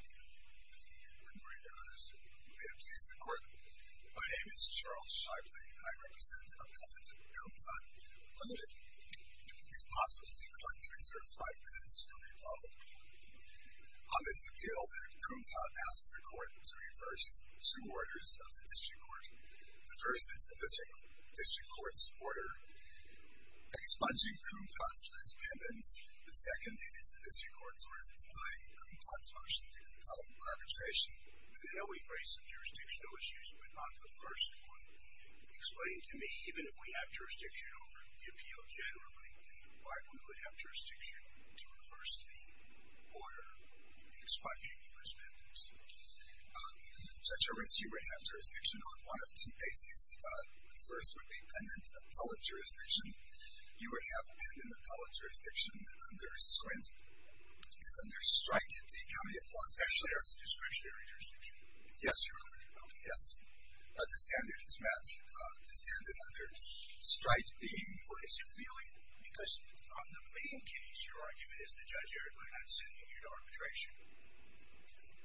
Good morning to others. May it please the Court. My name is Charles Sharpley, and I represent a company called Kum Tat Limited. If possible, we would like to reserve 5 minutes to rebuttal. On this appeal, Kum Tat asked the Court to reverse two orders of the District Court. The first is the District Court's order expunging Kum Tat's last pendants. The second is the District Court's order denying Kum Tat's motion to compel arbitration. I know we've raised some jurisdictional issues, but not the first one. Explain to me, even if we have jurisdiction over the appeal generally, why we would have jurisdiction to reverse the order expunging the first pendants. So, Charles, you would have jurisdiction on one of two bases. The first would be pendent appellate jurisdiction. You would have pendent appellate jurisdiction that under-striped the accommodate clause. Actually, that's the discretionary jurisdiction. Yes, Your Honor. Okay. Yes. But the standard is met. The standard under-striped the implicit feeling, because on the main case, your argument is the judge erred by not sending you to arbitration.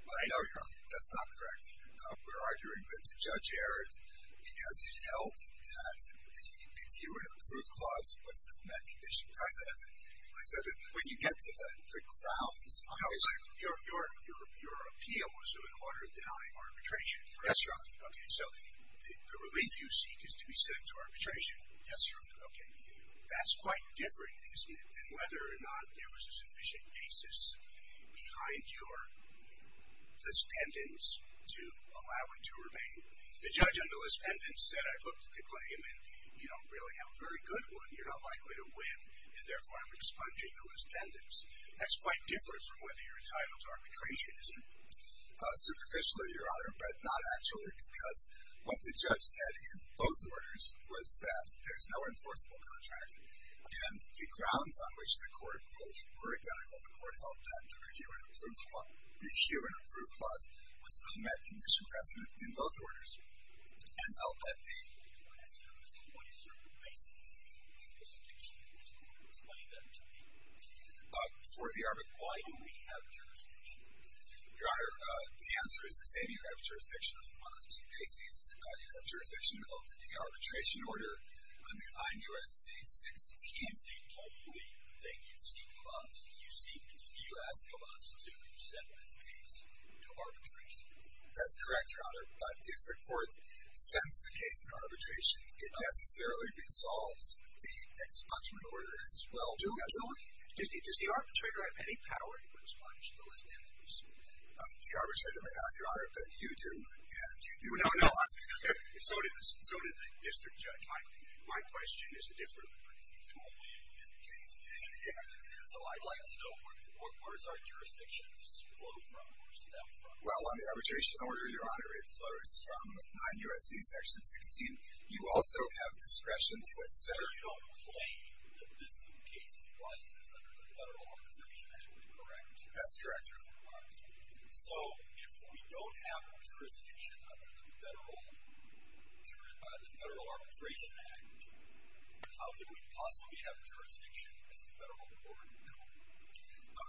I know, Your Honor. That's not correct. We're arguing that the judge erred because he held that the reviewer approved clause was in a met condition. I said that when you get to the grounds, your appeal was in order of denying arbitration. Yes, Your Honor. Okay. So the relief you seek is to be sent to arbitration. Yes, Your Honor. Okay. That's quite different, isn't it, than whether or not there was a sufficient basis behind your, this pendence to allow it to remain. The judge under this pendence said, I've hooked the claim, and you don't really have a very good one. You're not likely to win, and therefore, I'm expunging the list pendence. That's quite different from whether you're entitled to arbitration, isn't it? Superficially, Your Honor, but not actually, because what the judge said in both orders was that there's no enforceable contract. And the grounds on which the court ruled were identical. The court held that the reviewer approved clause was in a met condition precedent in both orders. And I'll let the court ask you another thing. What is your basis for the jurisdiction in this court that was laid out to me? For the arbitration. Why do we have jurisdiction? Your Honor, the answer is the same. You have jurisdiction on those two cases. You have jurisdiction of the arbitration order under 9 U.S.C. 16. Do you think, ultimately, the thing you seek from us, do you ask from us to send this case to arbitration? That's correct, Your Honor. But if the court sends the case to arbitration, it necessarily resolves the expungement order as well. Does the arbitrator have any power to respond to the list pendence? The arbitrator may not, Your Honor, but you do. No, no. So did the district judge. My question is different. So I'd like to know, where does our jurisdictions flow from or stem from? Well, on the arbitration order, Your Honor, it flows from 9 U.S.C. section 16. You also have discretion to, et cetera. You don't claim that this case applies to the federal organization, is that correct? That's correct, Your Honor. So if we don't have a jurisdiction under the Federal Arbitration Act, how do we possibly have jurisdiction as a federal court?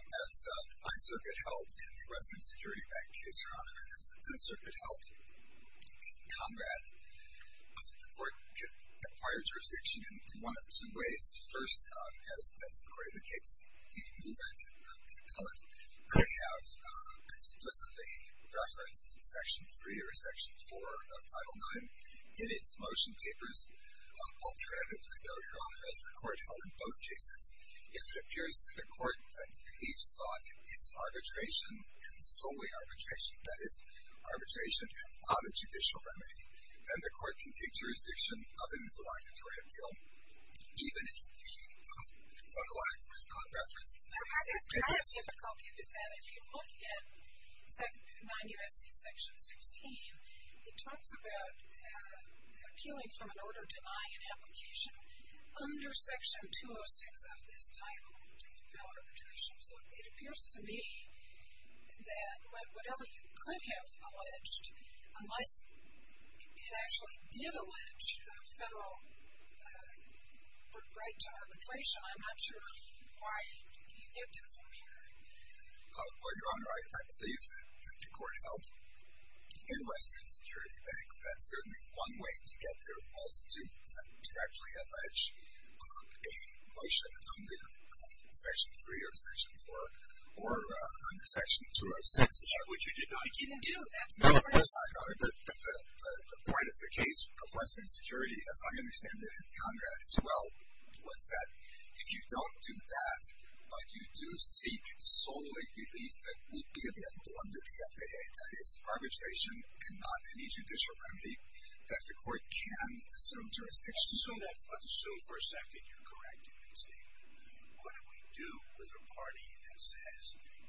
As the 5th Circuit held in the Western Security Bank case, Your Honor, and as the 10th Circuit held in Conrad, the court could acquire jurisdiction in one of two ways. First, as the Court of the Case, the movement of the code may have explicitly referenced Section 3 or Section 4 of Title IX in its motion papers. Alternatively, though, Your Honor, as the court held in both cases, if it appears to the court that it sought its arbitration, and solely arbitration, that is, arbitration on a judicial remedy, then the court can take jurisdiction of an obligatory appeal, even if the code of law is not referenced. I think part of the difficulty with that, if you look at 9 U.S.C. Section 16, it talks about appealing from an order denying an application under Section 206 of this title to compel arbitration. So it appears to me that whatever you could have alleged, unless it actually did allege a federal right to arbitration, I'm not sure why you'd give that formulary. Well, Your Honor, I believe that the court held in Western Security Bank that certainly one way to get there was to actually allege a motion under Section 3 or Section 4 or under Section 206. No, of course not, Your Honor. But the point of the case of Western Security, as I understand it in Congress as well, was that if you don't do that, but you do seek solely relief that would be available under the FAA, that is, arbitration and not any judicial remedy, that the court can assume jurisdiction. So for a second, you're correct in what you say. What do we do with a party that says,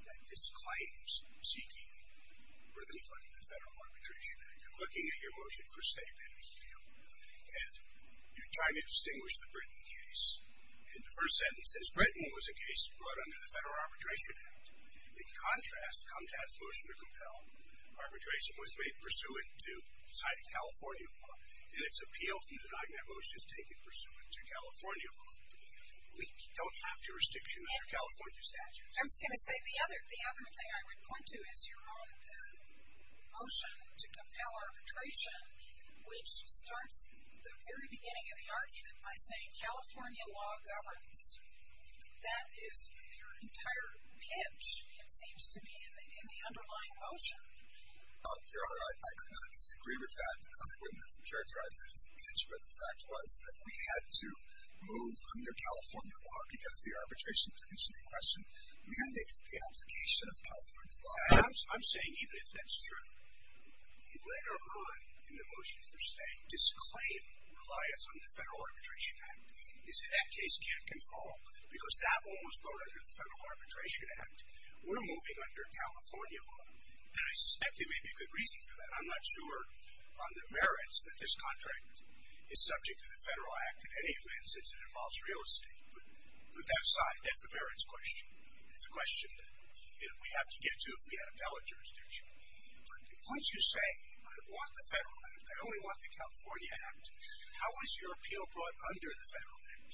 that disclaims seeking or conflicting with federal arbitration? You're looking at your motion for state penalty appeal, and you're trying to distinguish the Britain case. In the first sentence, it says, Britain was a case brought under the Federal Arbitration Act. In contrast, how does motion to compel arbitration was made pursuant to deciding California law, and its appeal from denying that motion is taken pursuant to California law. We don't have jurisdiction under California statutes. I was going to say, the other thing I would point to is your own motion to compel arbitration, which starts at the very beginning of the argument by saying California law governs. That is your entire pitch, it seems to be, in the underlying motion. Your Honor, I cannot disagree with that. I wouldn't have characterized it as a pitch, but the fact was that we had to move under California law because the arbitration petition in question mandated the application of California law. I'm saying, even if that's true, later on in the motion for state, disclaim reliance on the Federal Arbitration Act is that that case can't control, because that one was brought under the Federal Arbitration Act. We're moving under California law, and I suspect there may be good reason for that. I'm not sure on the merits that this contract is subject to the Federal Act. In any event, since it involves real estate, put that aside. That's a merits question. It's a question that we have to get to if we had appellate jurisdiction. But once you say, I want the Federal Act, I only want the California Act, how is your appeal brought under the Federal Act?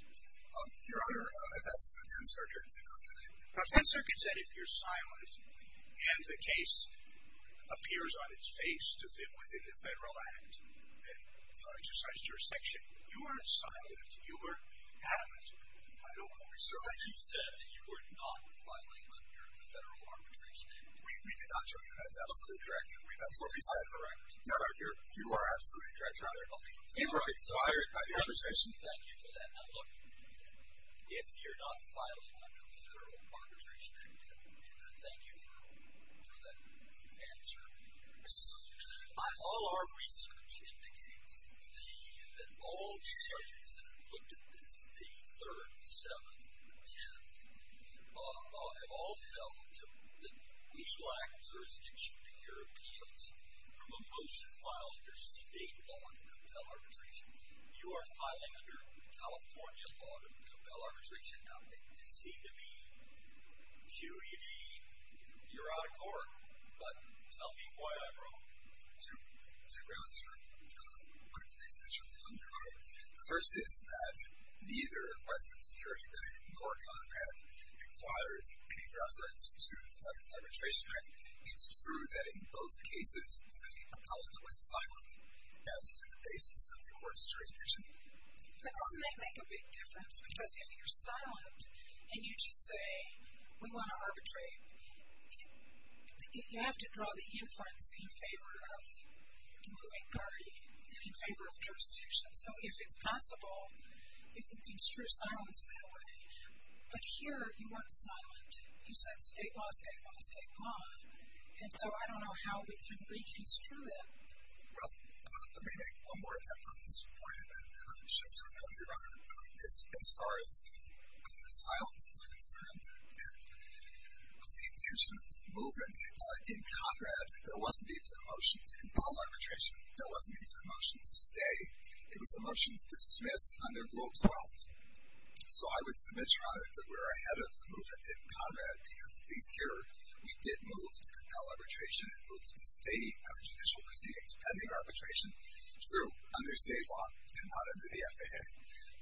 Your Honor, that's the 10th Circuit's opinion. Now, the 10th Circuit said if you're silent and the case appears on its face to fit within the Federal Act, then you are exercised jurisdiction. You are silent. You are adamant. I don't believe so. You said that you were not filing under the Federal Arbitration Act. We did not say that. That's absolutely correct. That's what we said. All right. No, no, you are absolutely correct, Your Honor. You are required by the arbitration. Thank you for that. Now, look, if you're not filing under the Federal Arbitration Act, thank you for that answer. All our research indicates that all the surgeons that have looked at this, the 3rd, 7th, 10th, have all felt that we lack jurisdiction to hear appeals from a motion filed under state law to compel arbitration. You are filing under California law to compel arbitration. Now, it does seem to me, QED, you're out of court, but tell me why I'm wrong. To ground you, Your Honor, one of the things that you're wrong, Your Honor, the first is that neither Western Security Bank nor Conrad required any reference to the Arbitration Act. It's true that in both cases, Collins was silent as to the basis of the court's jurisdiction. But doesn't that make a big difference? Because if you're silent, and you just say, we want to arbitrate, you have to draw the inference in favor of moving party and in favor of jurisdiction. So if it's possible, you can construe silence that way. But here, you weren't silent. You said state law, state law, state law. And so I don't know how we can reconstrue that. Well, let me make one more point about that. As far as silence is concerned, the intention of the movement in Conrad, there wasn't even a motion to compel arbitration. There wasn't even a motion to stay. It was a motion to dismiss under Rule 12. So I would submit, Your Honor, that we're ahead of the movement in Conrad because at least here, we did move to compel arbitration and moved to stay after judicial proceedings pending arbitration through under state law and not under the FAA.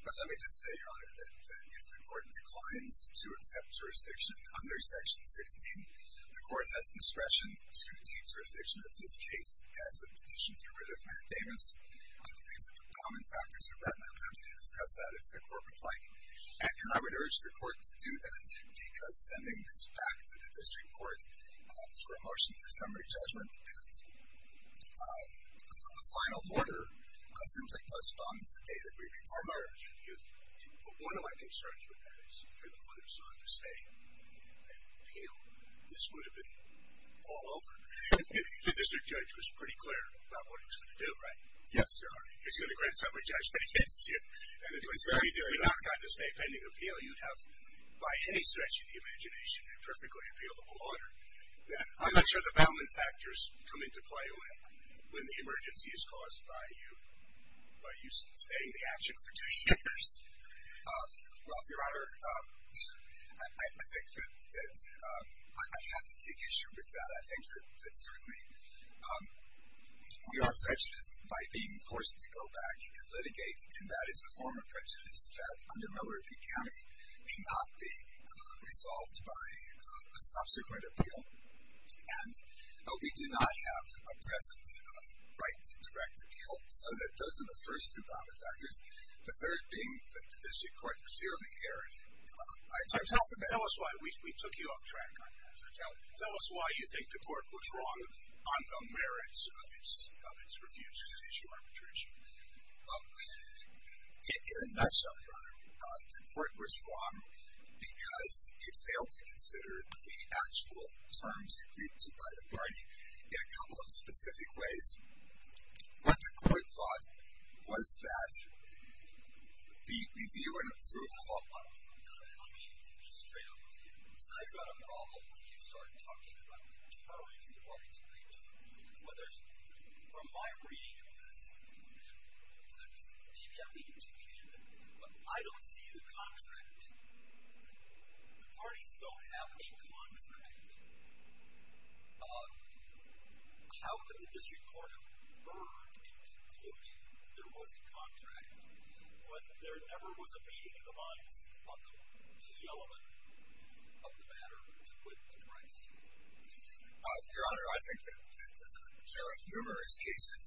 But let me just say, Your Honor, that if the court declines to accept jurisdiction under Section 16, the court has discretion to take jurisdiction of this case as a petition to rid of Matt Davis. I think that the common factors are that, and I would have to discuss that if the court would like. And I would urge the court to do that because sending this back to the district court for a motion for summary judgment and a final order seems like postponed since the day the grievance was heard. But one of my concerns with that is you're the one who's going to stay and appeal. This would have been all over. The district judge was pretty clear about what he was going to do, right? Yes, Your Honor. He was going to grant summary judgment against you and it was very clear. If you had not gotten a stay pending appeal, you'd have, by any stretch of the imagination, a perfectly appealable order. I'm not sure the common factors come into play when the emergency is caused by you staying in action for two years. Well, Your Honor, I think that I have to take issue with that. I think that certainly we are prejudiced by being forced to go back and litigate and that is a form of prejudice that under Miller v. Cammie cannot be resolved by a subsequent appeal. We do not have a present right to direct appeal so that those are the first two common factors, the third being that the district court clearly erred. Tell us why we took you off track on that. Tell us why you think the court was wrong on the merits of its refusal to issue arbitration. In a nutshell, Your Honor, the court was wrong because it failed to consider the actual terms agreed to by the party in a couple of specific ways. What the court thought was that the review and approval... I mean, straight up review. So I've got a problem when you start talking about the terms the parties agreed to. From my reading of this, maybe I'm being too candid, but I don't see the contract. The parties don't have a contract. How could the district court have erred in concluding that there was a contract when there never was a meeting of the minds of the key element of the matter to quit the case? Your Honor, I think that there are numerous cases,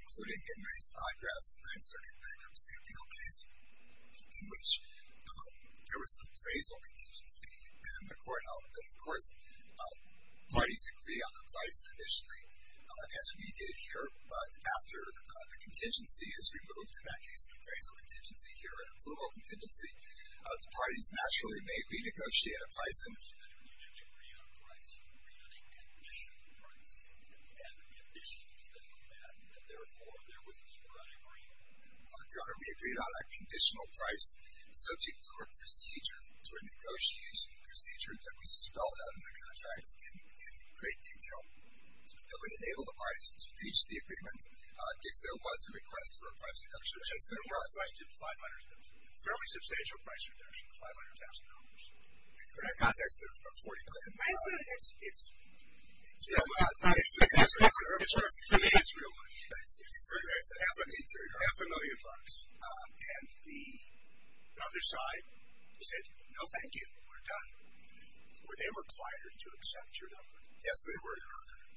including Henry Seidrath's in which there was some phrasal contingency in the court element. Of course, parties agree on the price initially, as we did here, but after the contingency is removed, in that case, the phrasal contingency here and the plural contingency, the parties naturally may renegotiate a price. If you didn't agree on a price, you agreed on a conditional price and the conditions that you met, and therefore, there was never an agreement. Your Honor, we agreed on a conditional price subject to a procedure, to a negotiation procedure that we spelled out in the contract in great detail that would enable the parties to reach the agreement if there was a request for a price reduction. If there was a request for a price reduction, $500,000. Fairly substantial price reduction, $500,000. In the context of $40 million, it's... To me, it's real money. It's half a million bucks. And the other side said, no, thank you. We're done. Were they required to accept your number? Yes, they were.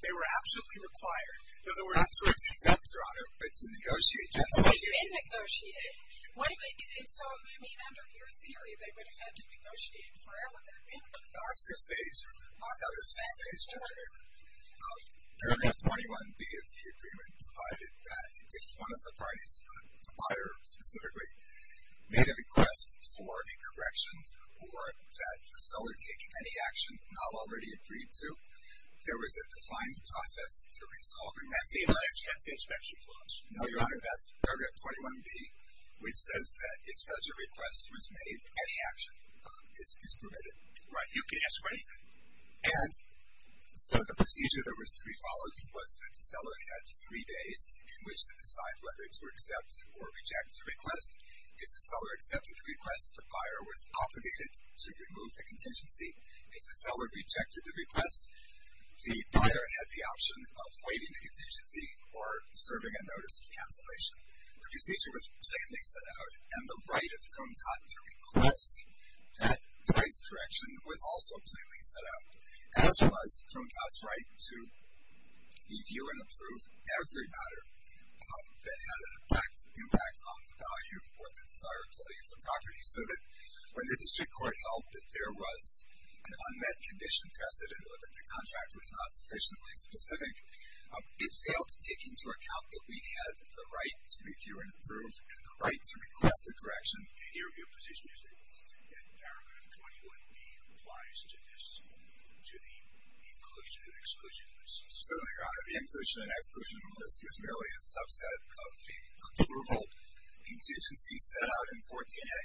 They were absolutely required. No, they were not to accept, Your Honor, but to negotiate, just like you did. But they did negotiate. they would have had to negotiate for however long it had been. In our six days, or my other six days, Judge, paragraph 21B of the agreement provided that if one of the parties, the buyer specifically, made a request for a correction or that facilitated any action not already agreed to, there was a defined process to resolving that. The inspection clause. No, Your Honor, that's paragraph 21B, which says that if such a request was made, any action is permitted. Right. You can ask for anything. And so the procedure that was to be followed was that the seller had three days in which to decide whether to accept or reject the request. If the seller accepted the request, the buyer was obligated to remove the contingency. If the seller rejected the request, the buyer had the option of waiving the contingency or serving a notice of cancellation. The procedure was plainly set out, and the right of Crom-Tot to request that price correction was also plainly set out, as was Crom-Tot's right to review and approve every matter that had an impact on the value or the desirability of the property so that when the district court held that there was an unmet condition precedent or that the contract was not sufficiently specific, it failed to take into account that we had the right to review and approve and the right to request a correction. And your position is that paragraph 21b applies to this, to the inclusion and exclusion list? So the inclusion and exclusion list is merely a subset of the approval contingency set out in 14a.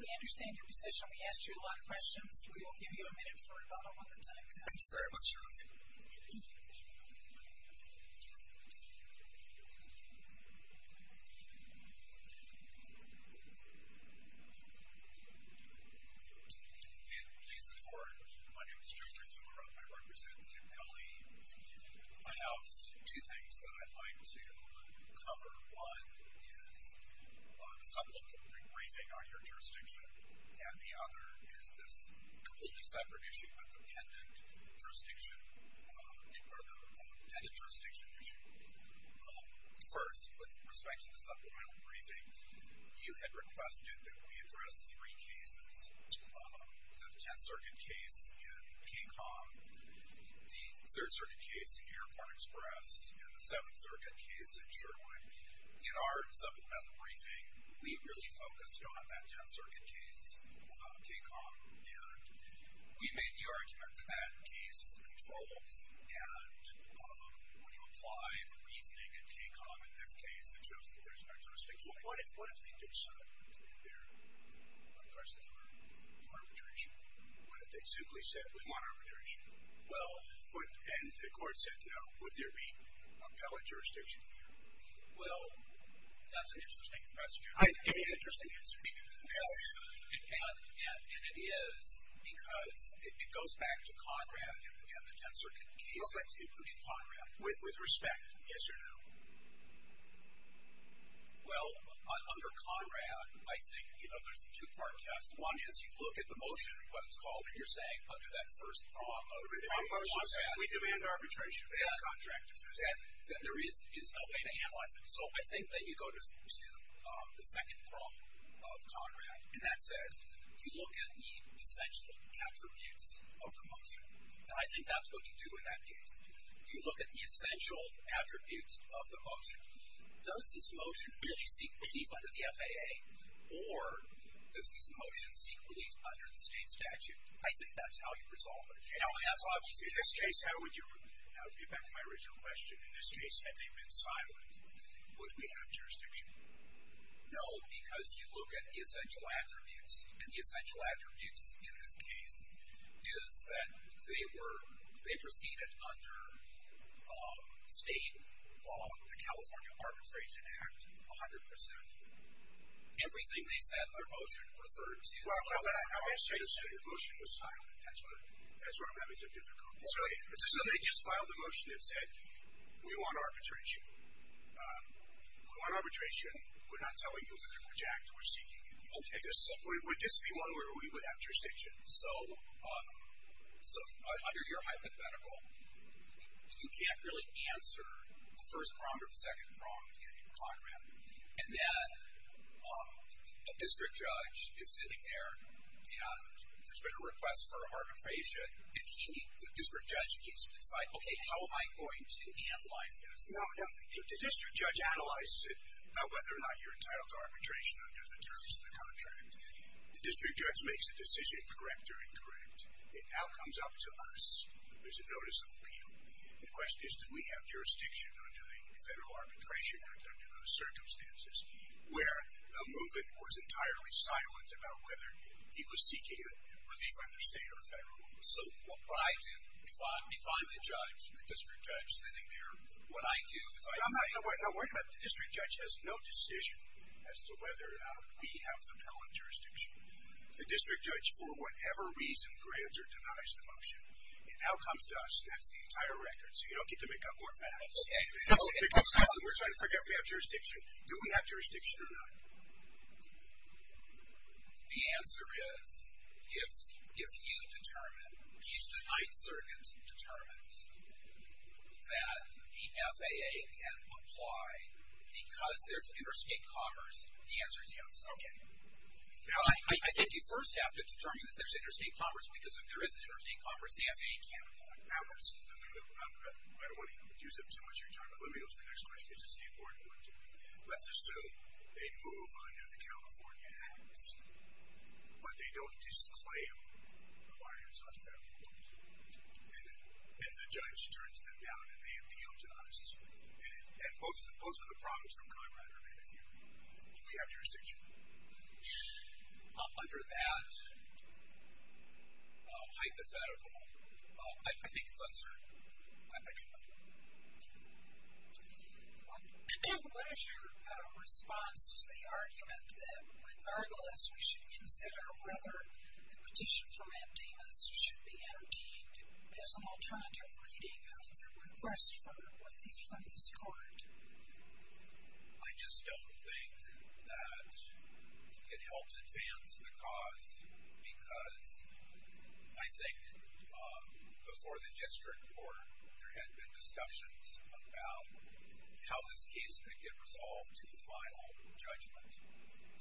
We understand your position. We asked you a lot of questions. We will give you a minute for a follow-up at the time. I'm sorry about that. Go ahead. Please support. My name is Jeffrey Thorup. I represent the MLE. I have two things that I'd like to cover. One is the supplemental briefing on your jurisdiction, and the other is this completely separate issue of the pendant jurisdiction, or the pendant jurisdiction issue. First, with respect to the supplemental briefing, you had requested that we address three cases, the Tenth Circuit case in KCON, the Third Circuit case in Airport Express, and the Seventh Circuit case in Sherwood. In our supplemental briefing, we really focused on that Tenth Circuit case, KCON, and we made the argument that that case controls, and when you apply the reasoning in KCON in this case, it shows that there's no jurisdiction. Well, what if they did something in there in regards to arbitration? What if they simply said, we want arbitration? And the court said, no. Would there be appellate jurisdiction here? Well, that's an interesting question. Give me an interesting answer. And it is because it goes back to CONRAD, the Tenth Circuit case, including CONRAD. With respect, yes or no? Well, under CONRAD, I think there's a two-part test. One is you look at the motion, what it's called, and you're saying under that first prong of CONRAD... We demand arbitration. And there is no way to analyze it. So I think that you go to the second prong of CONRAD, and that says you look at the essential attributes of the motion. And I think that's what you do in that case. You look at the essential attributes of the motion. Does this motion really seek relief under the FAA? Or does this motion seek relief under the state statute? I think that's how you resolve it. Now, in this case, I'll get back to my original question. In this case, had they been silent, would we have jurisdiction? No, because you look at the essential attributes. And the essential attributes in this case is that they proceeded under state law, the California Arbitration Act, 100%. Everything they said in their motion referred to... Well, let me say this. The motion was silent. That's where I'm having some difficulties. So they just filed a motion that said, we want arbitration. We want arbitration. We're not telling you which act we're seeking. Okay, so would this be one where we would have jurisdiction? So under your hypothetical, you can't really answer the first prong or the second prong in your contract. And then a district judge is sitting there, and there's been a request for arbitration, and the district judge needs to decide, okay, how am I going to analyze this? If the district judge analyzes it, whether or not you're entitled to arbitration under the terms of the contract, the district judge makes a decision, correct or incorrect, it now comes up to us. There's a notice of appeal. The question is, do we have jurisdiction under the federal arbitration under those circumstances, where the movement was entirely silent about whether he was seeking it under state or federal law. Define the judge, the district judge sitting there. What I do is I say... No, wait a minute. The district judge has no decision as to whether or not we have the appellant jurisdiction. The district judge, for whatever reason, grants or denies the motion. It now comes to us. That's the entire record, so you don't get to make up more facts. Okay. We're trying to figure out if we have jurisdiction. Do we have jurisdiction or not? The answer is, if you determine, if the Ninth Circuit determines that the FAA can apply because there's interstate commerce, the answer is yes. Okay. I think you first have to determine that there's interstate commerce because if there is interstate commerce, the FAA can't apply. Now, let's... I don't want to use up too much of your time, but let me go to the next question, because it's a more important one. Let's assume they move under the California Acts, but they don't disclaim why it's unfair. And the judge turns them down, and they appeal to us. And both are the products of Conrad, are they not? Do we have jurisdiction? Under that hypothetical, I think it's uncertain. I don't know. What is your response to the argument that, regardless, we should consider whether a petition for mandamus should be entertained as an alternative reading of the request for what is from this court? I just don't think that it helps advance the cause because I think before the district court, there had been discussions about how this case could get resolved to the final judgment.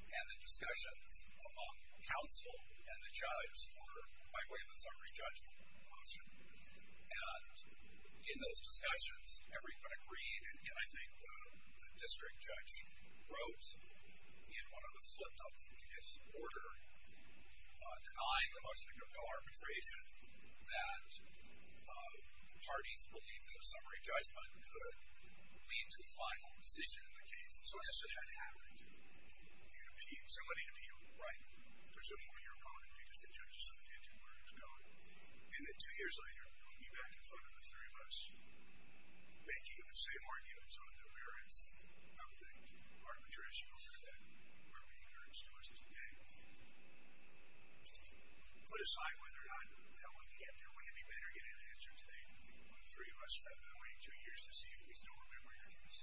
And the discussions among counsel and the judge were, by the way, the summary judgment motion. And in those discussions, everyone agreed, and I think the district judge wrote, in one of the flip-flops in his order, denying the motion to compel arbitration that the parties believed that a summary judgment could lead to the final decision in the case. So why shouldn't that happen? Somebody appealed, right? Presumably your opponent, because the judge is so intent on where it's going. And then two years later, you'll be back in front of the three of us making the same arguments on the merits of the arbitration over that where we encourage to us as a gang to put aside whether or not that one can get there. Wouldn't it be better getting an answer today when the three of us have been waiting two years to see if we still remember your case?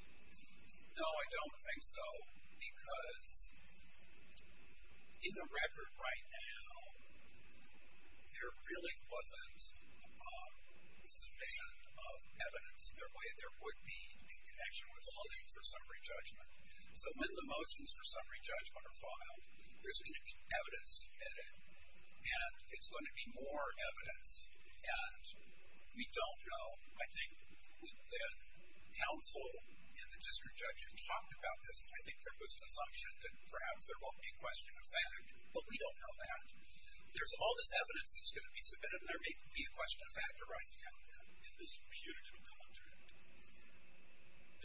No, I don't think so. Because in the record right now, there really wasn't sufficient evidence in the way there would be in connection with the motions for summary judgment. So when the motions for summary judgment are filed, there's going to be evidence in it, and it's going to be more evidence. And we don't know. I think when counsel and the district judge talked about this, I think there was an assumption that perhaps there won't be a question of fact, but we don't know that. There's all this evidence that's going to be submitted, and there may be a question of fact arising out of that in this punitive contract.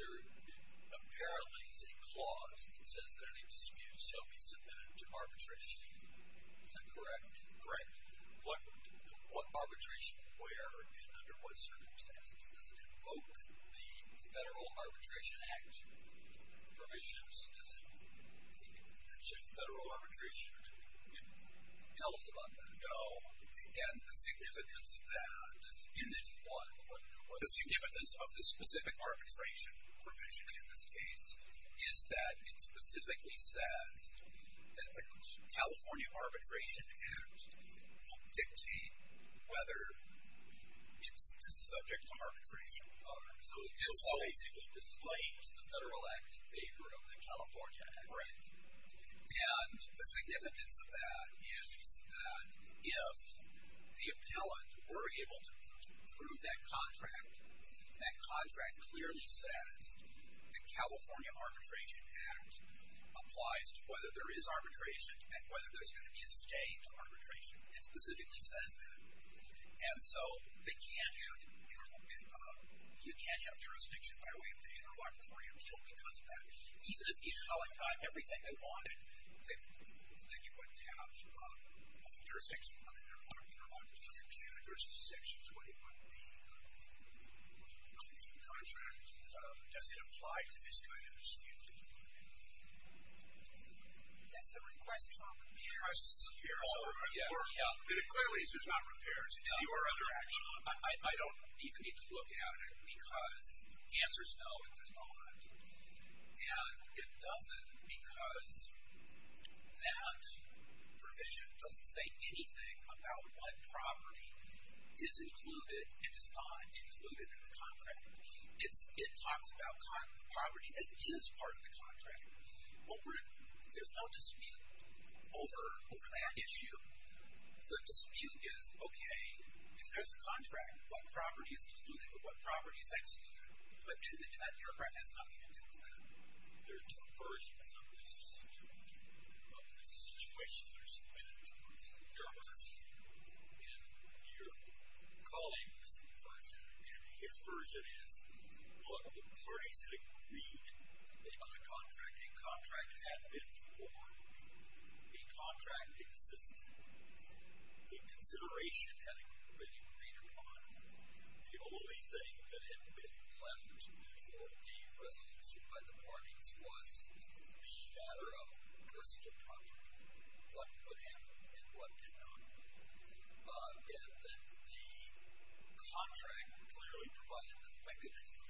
There apparently is a clause that says that any dispute shall be submitted to arbitration. Is that correct? Correct. What arbitration, where, and under what circumstances does it invoke the Federal Arbitration Act provisions? Does it mention federal arbitration? Can you tell us about that? No. And the significance of that in this one, the significance of the specific arbitration provision in this case is that it specifically says that the California Arbitration Act dictates whether it's subject to arbitration. So it just basically displays the federal act in favor of the California Act. Correct. And the significance of that is that if the appellant were able to approve that contract, that contract clearly says the California Arbitration Act applies to whether there is arbitration and whether there's going to be a state arbitration. It specifically says that. And so you can't have jurisdiction by way of an interlocutory appeal because of that. Even if the appellant got everything they wanted, then you wouldn't have jurisdiction on an interlocutory appeal. And there's a section 21B of the punitive contract. Does it apply to this kind of dispute? That's the request for repairs. Request for repairs. Oh, yeah, yeah. But it clearly says not repairs. You are under action. I don't even need to look at it because the answer's no, but there's not. And it doesn't because that provision doesn't say anything about what property is included and is not included in the contract. It talks about the property that is part of the contract. There's no dispute over that issue. The dispute is, OK, if there's a contract, what property is included or what property is excluded? But in that, your friend has nothing to do with that. There are two versions of this situation. There's the punitive terms. And your colleague's version and his version is what the parties had agreed on a contract. A contract had been formed. A contract existed. A consideration had been agreed upon. The only thing that had been left for a resolution by the parties was the matter of personal property. What put in and what did not. And then the contract clearly provided the mechanism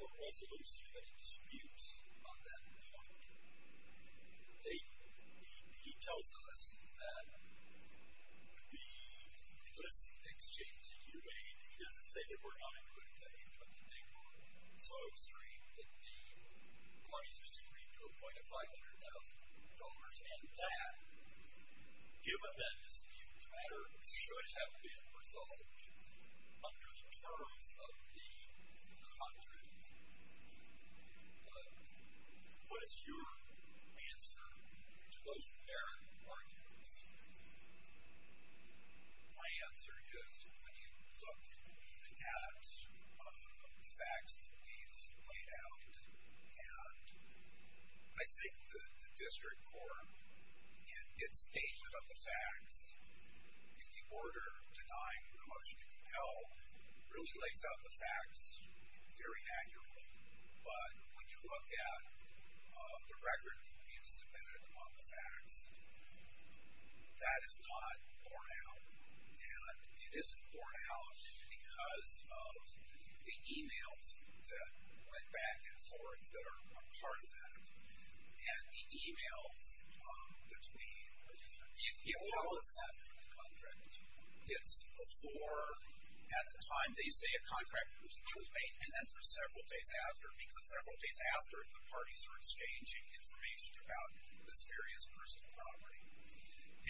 for a resolution and a dispute on that point. He tells us that because things changed in U.A. and he doesn't say that we're not included in anything, but the date was so extreme that the parties disagreed to a point of $500,000. And that, given that dispute, the matter should have been resolved under the terms of the contract. What is your answer to those generic arguments? My answer is, when you look at the facts that we've laid out and I think the district court in its statement of the facts in the order denying the motion to compel really lays out the facts very accurately. But when you look at the record that we've submitted on the facts, that is not borne out. And it isn't borne out because of the emails that went back and forth that are part of that. And the emails that we get from the contract gets before at the time they say a contract was made and then for several days after. Because several days after, the parties are exchanging information about this various personal property.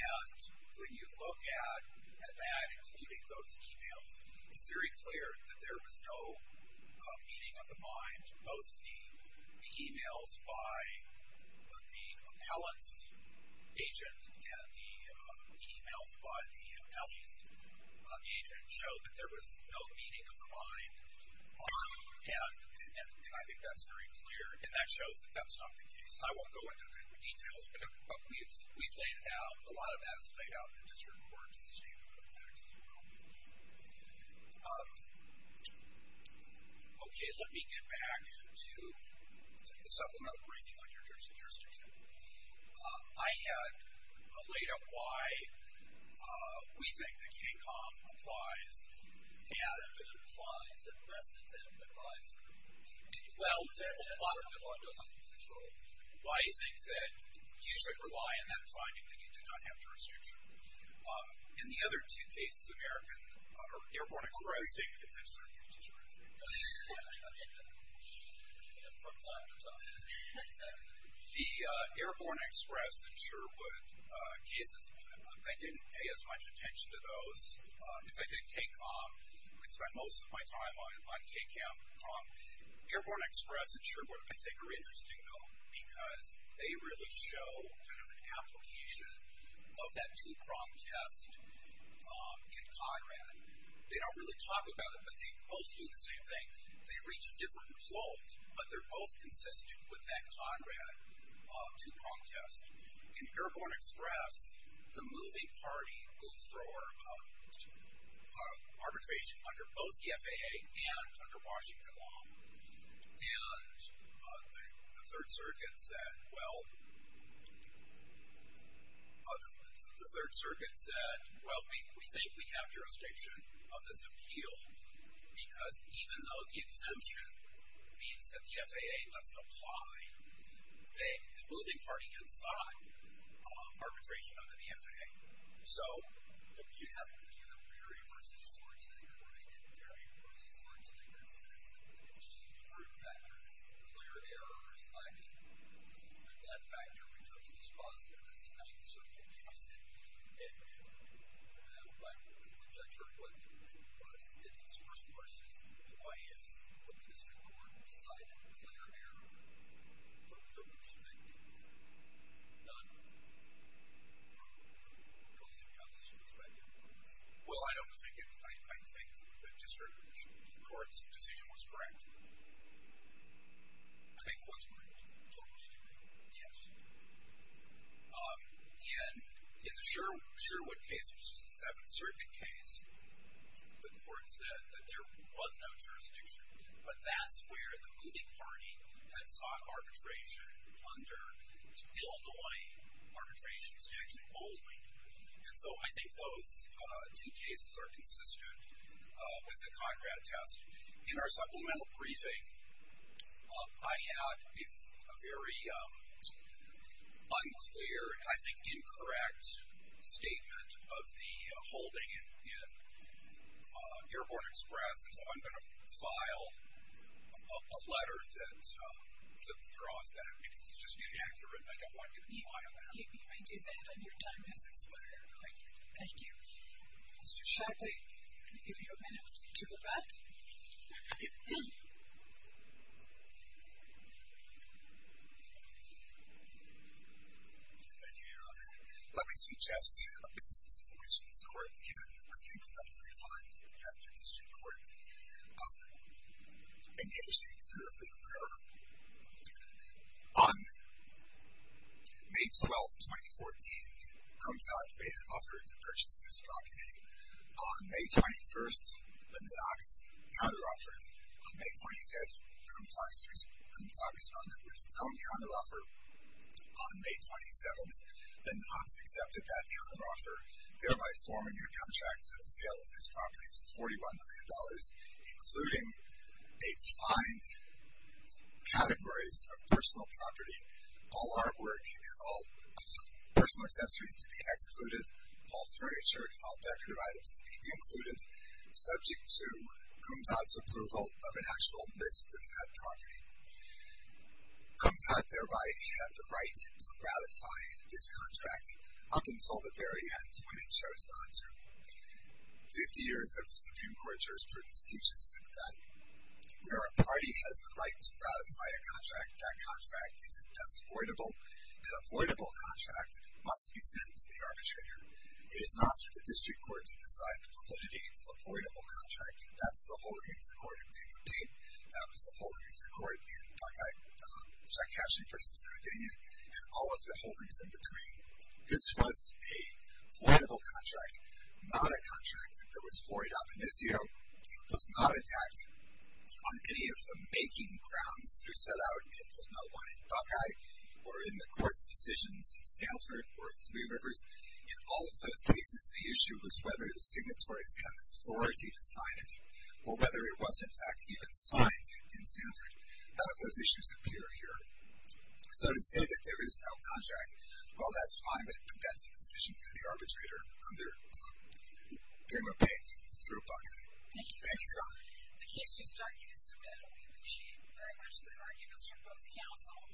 And when you look at that, including those emails, it's very clear that there was no meeting of the mind. Both the emails by the Appellant's agent and the emails by the Alley's agent show that there was no meeting of the mind. And I think that's very clear. And that shows that that's not the case. I won't go into the details, but we've laid it out. A lot of that is laid out in the district court's statement on the facts as well. OK, let me get back to the supplemental briefing on your jurisdiction. I had laid out why we think that KCOM applies. And it applies. And the rest of them applies. Well, a lot of them. Why I think that you should rely on that finding that you do not have jurisdiction. In the other two cases, American, or Airborne Express. The Airborne Express and Sherwood cases, I didn't pay as much attention to those. Because I did KCOM. I spent most of my time on KCOM. Airborne Express and Sherwood, I think, are interesting, though, because they really show an application of that two-prong test in Conrad. They don't really talk about it, but they both do the same thing. They reach a different result, but they're both consistent with that Conrad two-prong test. In Airborne Express, the moving party will throw arbitration under both the FAA and under Washington law. And the Third Circuit said, well, we think we have jurisdiction on this appeal. Because even though the exemption means that the FAA must apply, the moving party can sign arbitration under the FAA. So if you have either Mary v. Schwarzenegger, and Mary v. Schwarzenegger says that there's two root factors, clear error is likely, that factor becomes dispositive as the Ninth Circuit uses it. And by which I'm sure it was in these first courses, why has the District Court decided clear error from your perspective, not from the policing counsel's perspective? Well, I don't think it's. I think the District Court's decision was correct. I think it was correct. Don't you think? Yes. And in the Sherwood case, which is the Seventh Circuit case, the court said that there was no jurisdiction. But that's where the moving party had sought arbitration under the Illinois arbitration statute only. And so I think those two cases are consistent with the Conrad test. In our supplemental briefing, I had a very unclear, and I think incorrect, statement of the holding in Airborne Express. And so I'm going to file a letter that withdraws that, because it's just inaccurate. And I don't want you to file that. You may do that. And your time has expired. Thank you. Mr. Sharkey, I'll give you a minute to go back. Thank you, Your Honor. Let me suggest a basis on which this court can, I think, publicly find that the district court engaged in a legal error. On May 12, 2014, Compton made an offer to purchase this property. On May 21, the Knox counteroffered. On May 25, Compton responded with its own counteroffer. On May 27, the Knox accepted that counteroffer, thereby forming a contract for the sale of this property for $41 million, including a defined categories of personal property, all artwork and all personal accessories to be excluded, all furniture and all decorative items to be included, subject to Compton's approval of an actual list of that property. Compton thereby had the right to ratify this contract up until the very end when it chose not to. 50 years of Supreme Court jurisprudence teaches that where a party has the right to ratify a contract, that contract is an exploitable contract that must be sent to the arbitrator. It is not for the district court to decide the validity of the exploitable contract. That's the holdings of the court of David Bain. That was the holdings of the court in Buckeye, Chakashian v. Navadena, and all of the holdings in between. This was an exploitable contract, not a contract that was void up. In this year, it was not attacked on any of the making grounds through set-out it did not want in Buckeye or in the court's decisions in Sanford or Three Rivers. In all of those cases, the issue was whether the signatories had the authority to sign it or whether it was, in fact, even signed in Sanford. None of those issues appear here. So to say that there is no contract, well, that's fine, but that's a decision for the arbitrator under Drama Bain for Buckeye. Thank you. The case is starting to submit. We appreciate very much the arguments from both counsel.